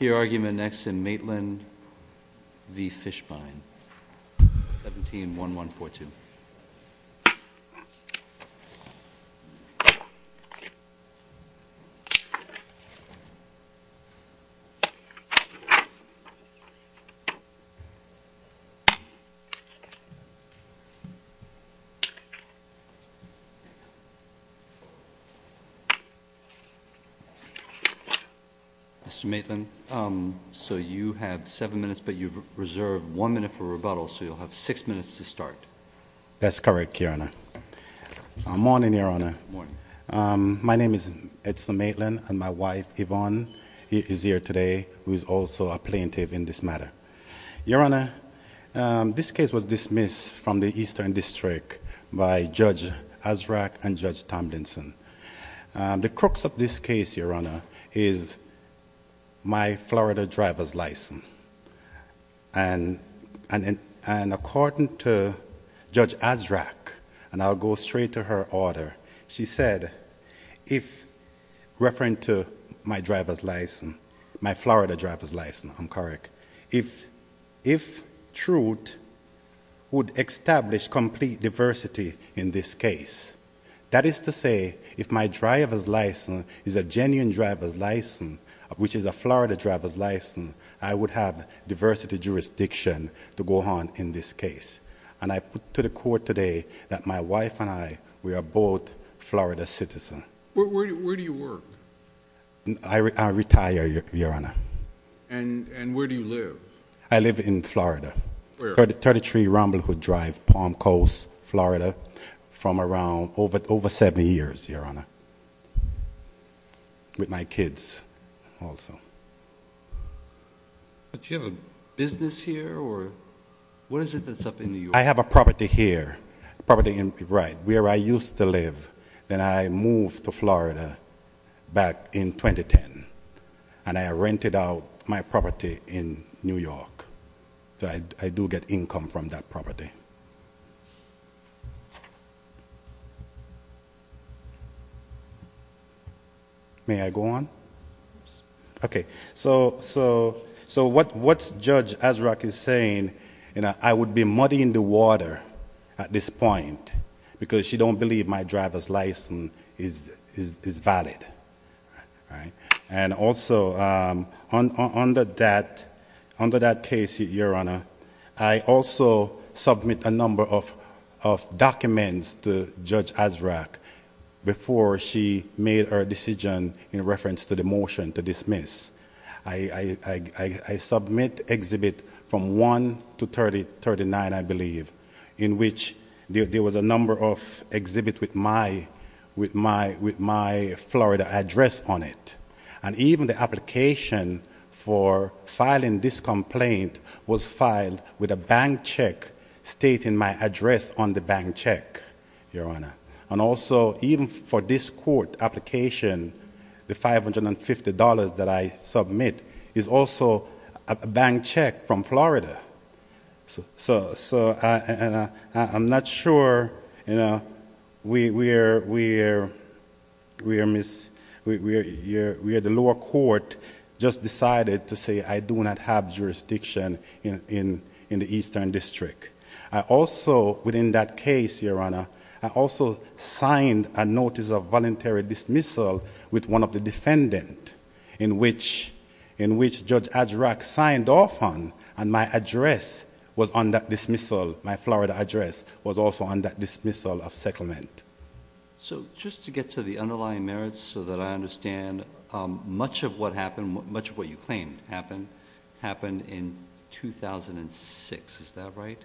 Your argument next in Maitland v. Fishbein, 17-1142. Mr. Maitland, so you have seven minutes, but you've reserved one minute for rebuttal, so you'll have six minutes to start. That's correct, Your Honor. Morning, Your Honor. Morning. My name is Edson Maitland, and my wife, Yvonne, is here today, who is also a plaintiff in this matter. Your Honor, this case was dismissed from the Eastern District by Judge Azraq and Judge Tomlinson. The crux of this case, Your Honor, is my Florida driver's license. And according to Judge Azraq, and I'll go straight to her order, she said, referring to my driver's license, my Florida driver's license, I'm correct, if truth would establish complete diversity in this case, that is to say, if my driver's license is a genuine driver's license, which is a Florida driver's license, I would have diversity jurisdiction to go on in this case. And I put to the court today that my wife and I, we are both Florida citizens. Where do you work? I retire, Your Honor. And where do you live? I live in Florida. Where? 33 Ramble Hood Drive, Palm Coast, Florida, from around over 70 years, Your Honor. With my kids also. But you have a business here, or what is it that's up in New York? I have a property here, a property in, right, where I used to live. Then I moved to Florida back in 2010, and I rented out my property in New York. So I do get income from that property. May I go on? Okay. So what Judge Azraq is saying, I would be muddy in the water at this point because she don't believe my driver's license is valid. And also, under that case, Your Honor, I also submit a number of documents to Judge Azraq before she made her decision in reference to the motion to dismiss. I submit exhibits from 1 to 39, I believe, in which there was a number of exhibits with my Florida address on it. And even the application for filing this complaint was filed with a bank check stating my address on the bank check, Your Honor. And also, even for this court application, the $550 that I submit is also a bank check from Florida. So I'm not sure where the lower court just decided to say I do not have jurisdiction in the Eastern District. I also, within that case, Your Honor, I also signed a notice of voluntary dismissal with one of the defendants in which Judge Azraq signed off on, and my address was on that dismissal. My Florida address was also on that dismissal of settlement. So just to get to the underlying merits so that I understand, much of what happened, much of what you claimed happened, happened in 2006, is that right?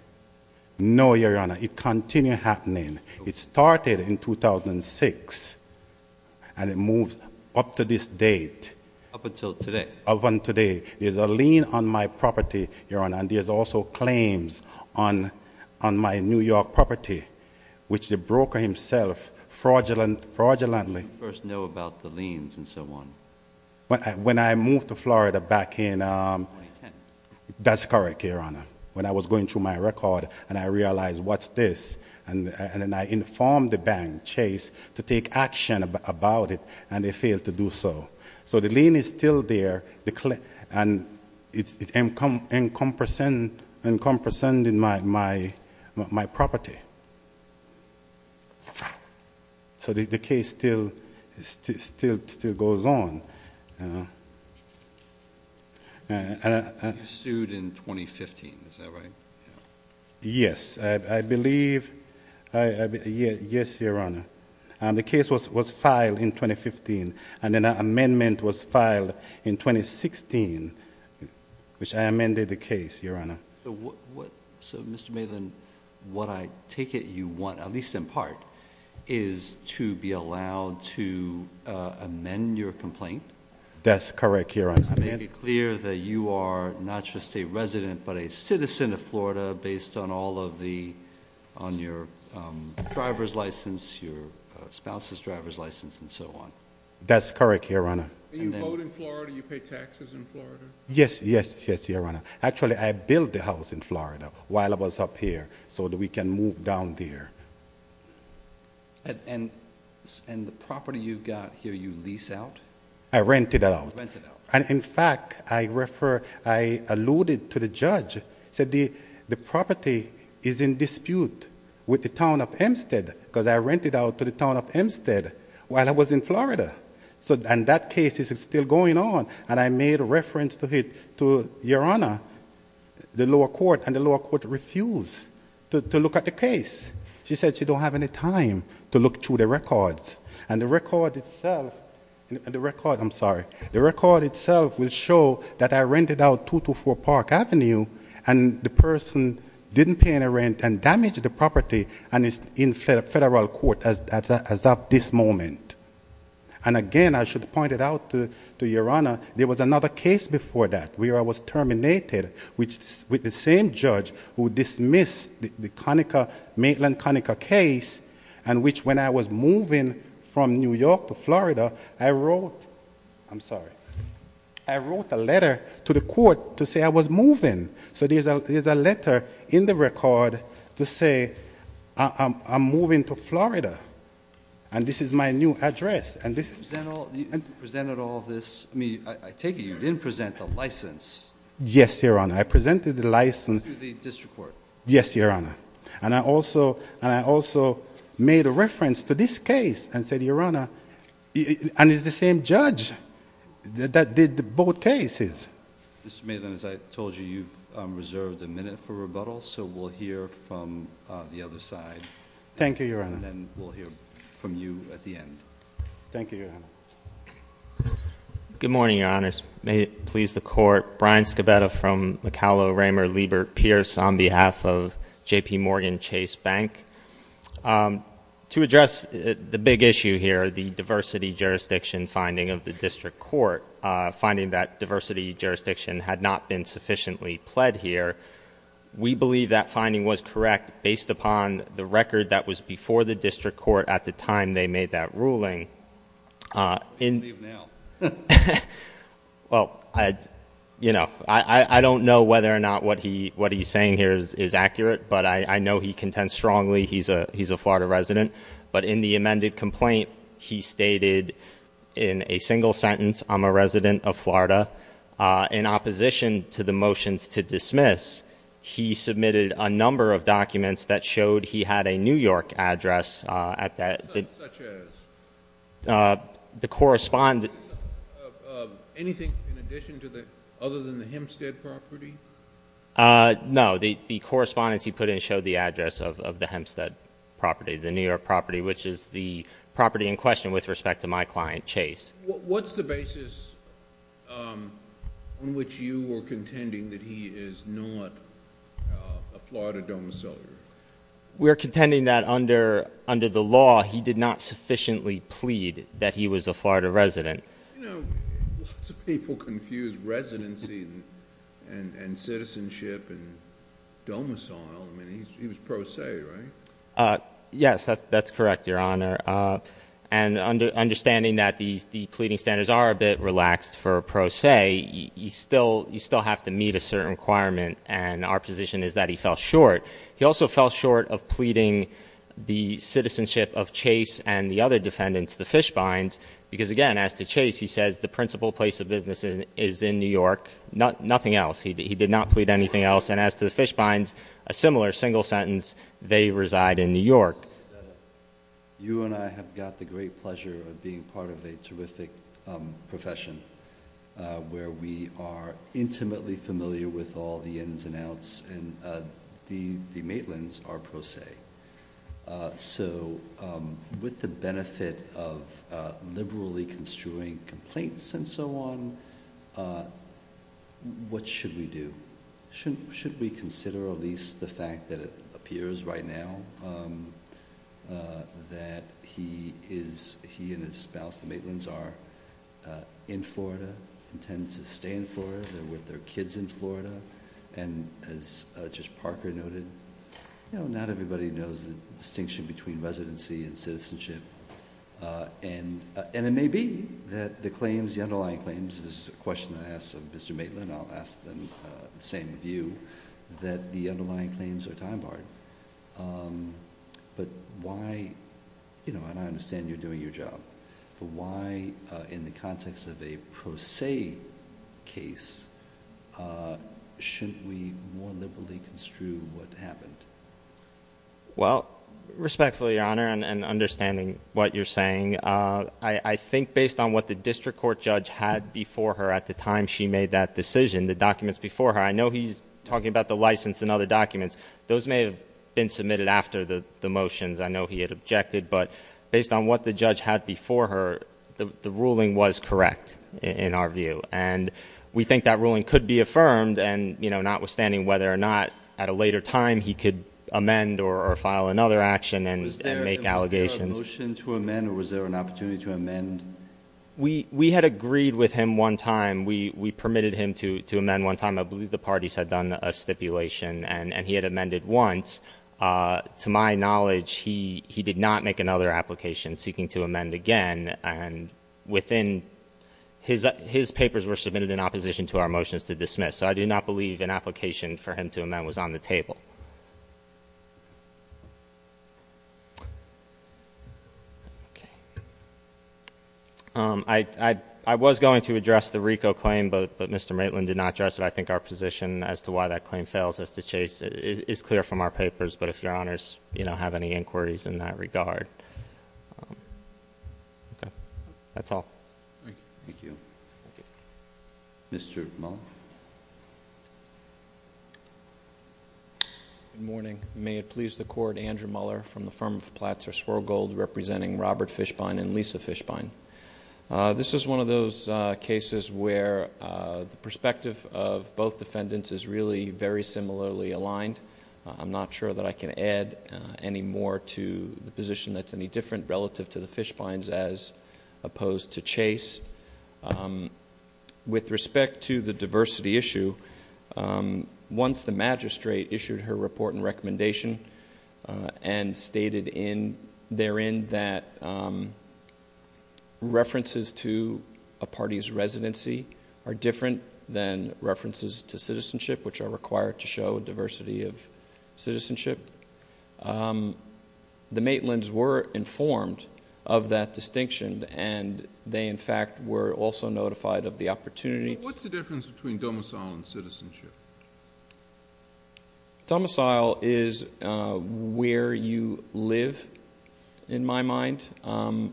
No, Your Honor, it continued happening. It started in 2006, and it moved up to this date. Up until today. Up until today. There's a lien on my property, Your Honor, and there's also claims on my New York property, which the broker himself fraudulently- When did you first know about the liens and so on? When I moved to Florida back in- 2010. That's correct, Your Honor. When I was going through my record, and I realized what's this, and then I informed the bank, Chase, to take action about it, and they failed to do so. So the lien is still there, and it's encompassing my property. So the case still goes on. You sued in 2015, is that right? Yes. I believe- Yes, Your Honor. The case was filed in 2015, and then an amendment was filed in 2016, which I amended the case, Your Honor. So, Mr. Maitland, what I take it you want, at least in part, is to be allowed to amend your complaint? That's correct, Your Honor. To make it clear that you are not just a resident, but a citizen of Florida based on all of the- on your driver's license, your spouse's driver's license, and so on. That's correct, Your Honor. Do you vote in Florida? Do you pay taxes in Florida? Yes, yes, yes, Your Honor. Actually, I built the house in Florida while I was up here so that we can move down there. And the property you've got here, you lease out? I rent it out. And, in fact, I refer- I alluded to the judge, said the property is in dispute with the town of Hempstead because I rented out to the town of Hempstead while I was in Florida. And that case is still going on. And I made reference to it to Your Honor, the lower court, and the lower court refused to look at the case. She said she don't have any time to look through the records. And the record itself- the record- I'm sorry. The record itself will show that I rented out 224 Park Avenue and the person didn't pay any rent and damaged the property and is in federal court as of this moment. And, again, I should point it out to Your Honor, there was another case before that where I was terminated with the same judge who dismissed the Conica- to Florida, I wrote- I'm sorry- I wrote a letter to the court to say I was moving. So there's a letter in the record to say I'm moving to Florida. And this is my new address. And this- You presented all this- I mean, I take it you didn't present the license. Yes, Your Honor. I presented the license- To the district court. Yes, Your Honor. And I also made a reference to this case and said, Your Honor, and it's the same judge that did both cases. Mr. Maitland, as I told you, you've reserved a minute for rebuttal, so we'll hear from the other side. Thank you, Your Honor. And then we'll hear from you at the end. Thank you, Your Honor. Good morning, Your Honors. May it please the court. Brian Scabetta from McAulay-Raymer-Liebert-Pierce on behalf of JPMorgan Chase Bank. To address the big issue here, the diversity jurisdiction finding of the district court, finding that diversity jurisdiction had not been sufficiently pled here, we believe that finding was correct based upon the record that was before the district court at the time they made that ruling. What do you believe now? Well, I don't know whether or not what he's saying here is accurate, but I know he contends strongly. He's a Florida resident. But in the amended complaint, he stated in a single sentence, I'm a resident of Florida. In opposition to the motions to dismiss, he submitted a number of documents that showed he had a New York address. Such as? The correspondence. Anything in addition to the, other than the Hempstead property? No, the correspondence he put in showed the address of the Hempstead property, the New York property, which is the property in question with respect to my client, Chase. What's the basis on which you were contending that he is not a Florida domiciliary? We're contending that under the law, he did not sufficiently plead that he was a Florida resident. Lots of people confuse residency and citizenship and domicile. I mean, he was pro se, right? Yes, that's correct, Your Honor. And understanding that the pleading standards are a bit relaxed for pro se, you still have to meet a certain requirement, and our position is that he fell short. He also fell short of pleading the citizenship of Chase and the other defendants, the Fishbinds. Because again, as to Chase, he says the principal place of business is in New York, nothing else. He did not plead anything else. And as to the Fishbinds, a similar single sentence, they reside in New York. You and I have got the great pleasure of being part of a terrific profession where we are intimately familiar with all the ins and outs, and the Maitlands are pro se. So with the benefit of liberally construing complaints and so on, what should we do? Should we consider at least the fact that it appears right now that he and his spouse, the Maitlands, are in Florida, intend to stay in Florida, they're with their kids in Florida, and as Judge Parker noted, not everybody knows the distinction between residency and citizenship. And it may be that the underlying claims, this is a question that I asked Mr. Maitland, I'll ask the same of you, that the underlying claims are time barred. But why, and I understand you're doing your job, but why in the context of a pro se case, shouldn't we more liberally construe what happened? Well, respectfully, Your Honor, and understanding what you're saying, I think based on what the district court judge had before her at the time she made that decision, the documents before her, I know he's talking about the license and other documents. Those may have been submitted after the motions. I know he had objected, but based on what the judge had before her, the ruling was correct in our view. And we think that ruling could be affirmed, and notwithstanding whether or not at a later time he could amend or file another action and make allegations. Was there a motion to amend, or was there an opportunity to amend? We had agreed with him one time. We permitted him to amend one time. I believe the parties had done a stipulation, and he had amended once. To my knowledge, he did not make another application seeking to amend again. And his papers were submitted in opposition to our motions to dismiss. So I do not believe an application for him to amend was on the table. I was going to address the RICO claim, but Mr. Maitland did not address it. I think our position as to why that claim fails us to chase is clear from our papers. But if Your Honors have any inquiries in that regard. Thank you. That's all. Thank you. Thank you. Mr. Muller. Good morning. May it please the Court, Andrew Muller from the firm of Platzer Swirlgold representing Robert Fishbein and Lisa Fishbein. This is one of those cases where the perspective of both defendants is really very similarly aligned. I'm not sure that I can add any more to the position that's any different relative to the Fishbeins as opposed to Chase. With respect to the diversity issue, once the magistrate issued her report and recommendation and stated therein that references to a party's residency are different than references to citizenship, which are required to show diversity of citizenship, the Maitlands were informed of that distinction, and they, in fact, were also notified of the opportunity... What's the difference between domicile and citizenship? Domicile is where you live, in my mind, and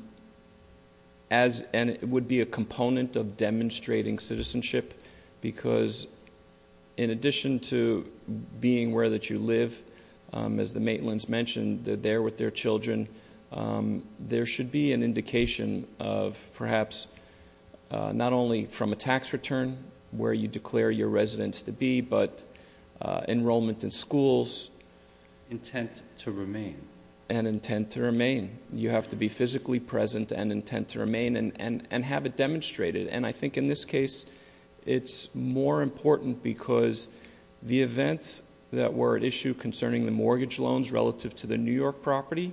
it would be a component of demonstrating citizenship because in addition to being where that you live, as the Maitlands mentioned, they're there with their children, there should be an indication of perhaps not only from a tax return where you declare your residence to be, but enrollment in schools... Intent to remain. And intent to remain. You have to be physically present and intent to remain and have it demonstrated. And I think in this case, it's more important because the events that were at issue concerning the mortgage loans relative to the New York property,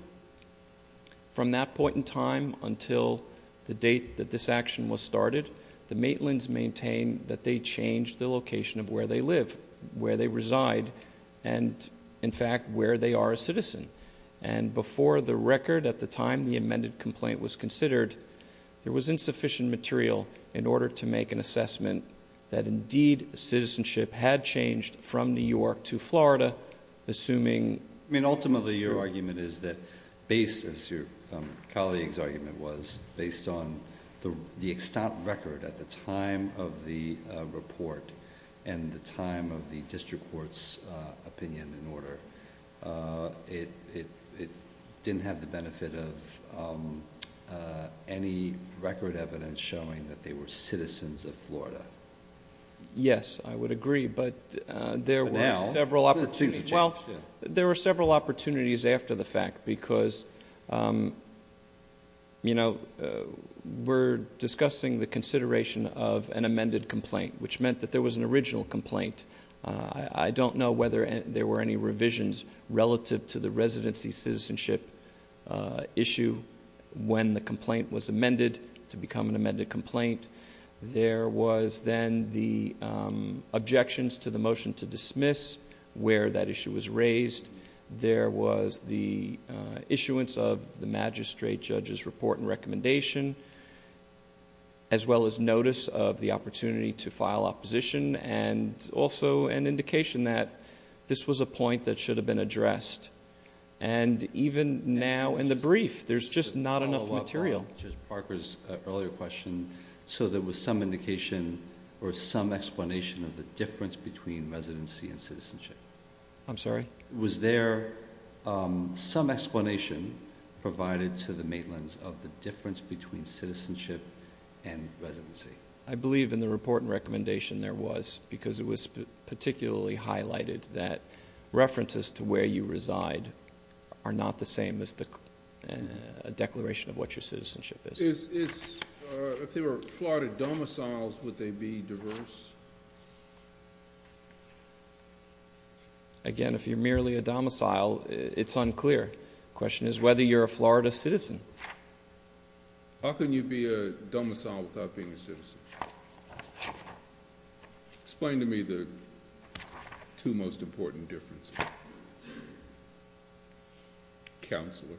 from that point in time until the date that this action was started, the Maitlands maintained that they changed the location of where they live, where they reside, and in fact, where they are a citizen. And before the record at the time the amended complaint was considered, there was insufficient material in order to make an assessment that indeed, citizenship had changed from New York to Florida, assuming... Ultimately, your argument is that based, as your colleague's argument was, based on the extant record at the time of the report and the time of the district court's opinion and order, it didn't have the benefit of any record evidence showing that they were citizens of Florida. Yes, I would agree, but there were several opportunities... Well, there were several opportunities after the fact because, you know, we're discussing the consideration of an amended complaint, which meant that there was an original complaint. I don't know whether there were any revisions relative to the residency citizenship issue when the complaint was amended to become an amended complaint. There was then the objections to the motion to dismiss where that issue was raised. There was the issuance of the magistrate judge's report and recommendation, as well as notice of the opportunity to file opposition and also an indication that this was a point that should have been addressed. And even now in the brief, there's just not enough material. To follow up on Parker's earlier question, so there was some indication or some explanation of the difference between residency and citizenship? I'm sorry? Was there some explanation provided to the Maitlands of the difference between citizenship and residency? I believe in the report and recommendation there was because it was particularly highlighted that references to where you reside are not the same as a declaration of what your citizenship is. If there were Florida domiciles, would they be diverse? Again, if you're merely a domicile, it's unclear. The question is whether you're a Florida citizen. How can you be a domicile without being a citizen? Explain to me the two most important differences. Counselor?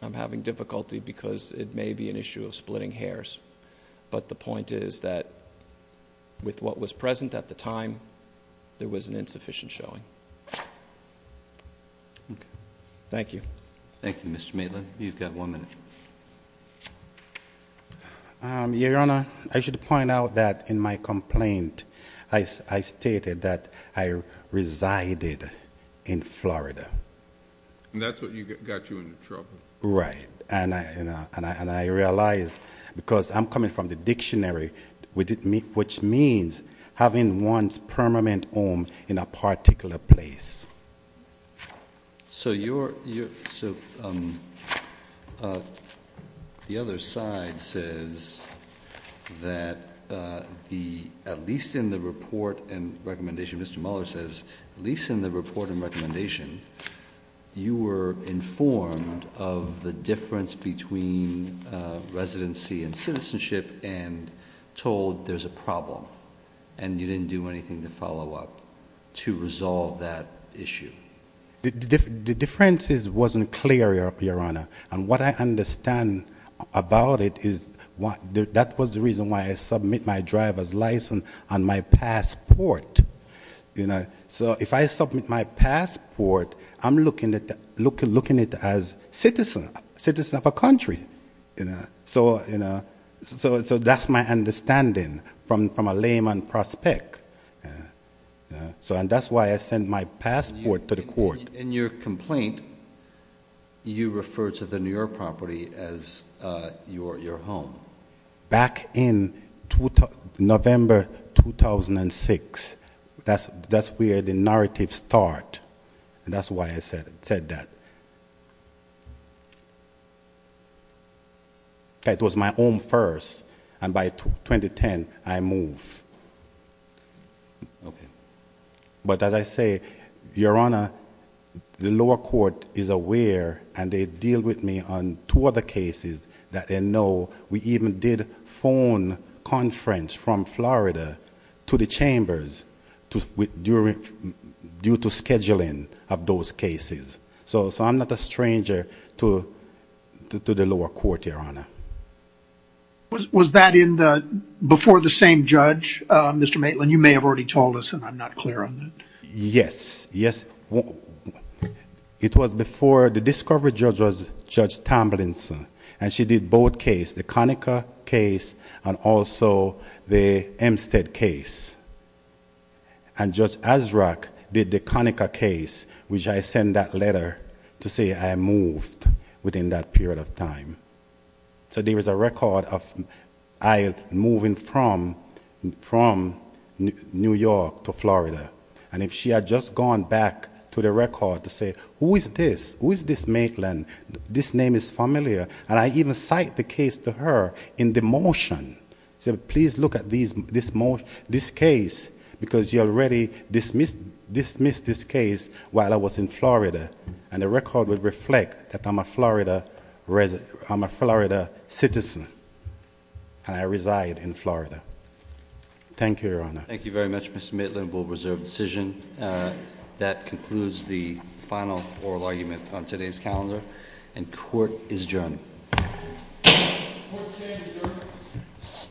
I'm having difficulty because it may be an issue of splitting hairs. But the point is that with what was present at the time, there was an insufficient showing. Thank you. Thank you, Mr. Maitland. You've got one minute. Your Honor, I should point out that in my complaint, I stated that I resided in Florida. And that's what got you into trouble? Right. And I realized because I'm coming from the dictionary, which means having one's permanent home in a particular place. So the other side says that at least in the report and recommendation, Mr. Mueller says, at least in the report and recommendation, you were informed of the difference between residency and citizenship and told there's a problem. And you didn't do anything to follow up to resolve that issue. The difference wasn't clear, Your Honor. And what I understand about it is that was the reason why I submit my driver's license and my passport. So if I submit my passport, I'm looking at it as citizen of a country. So that's my understanding from a layman prospect. So that's why I sent my passport to the court. In your complaint, you referred to the New York property as your home. Back in November 2006, that's where the narrative start. And that's why I said that. It was my home first. And by 2010, I moved. But as I say, Your Honor, the lower court is aware and they deal with me on two other cases that they know. We even did phone conference from Florida to the chambers due to scheduling of those cases. So I'm not a stranger to the lower court, Your Honor. Was that before the same judge, Mr. Maitland? You may have already told us, and I'm not clear on that. Yes. Yes. It was before the discovery judge was Judge Tamblinson. And she did both case, the Conaca case and also the Hempstead case. And Judge Azraq did the Conaca case, which I send that letter to say I moved within that period of time. So there was a record of I moving from New York to Florida. And if she had just gone back to the record to say, who is this? Who is this Maitland? This name is familiar. And I even cite the case to her in the motion. She said, please look at this case because you already dismissed this case while I was in Florida. And the record would reflect that I'm a Florida citizen. And I reside in Florida. Thank you, Your Honor. Thank you very much, Mr. Maitland. We'll reserve the decision. That concludes the final oral argument on today's calendar. And court is adjourned. Court is adjourned.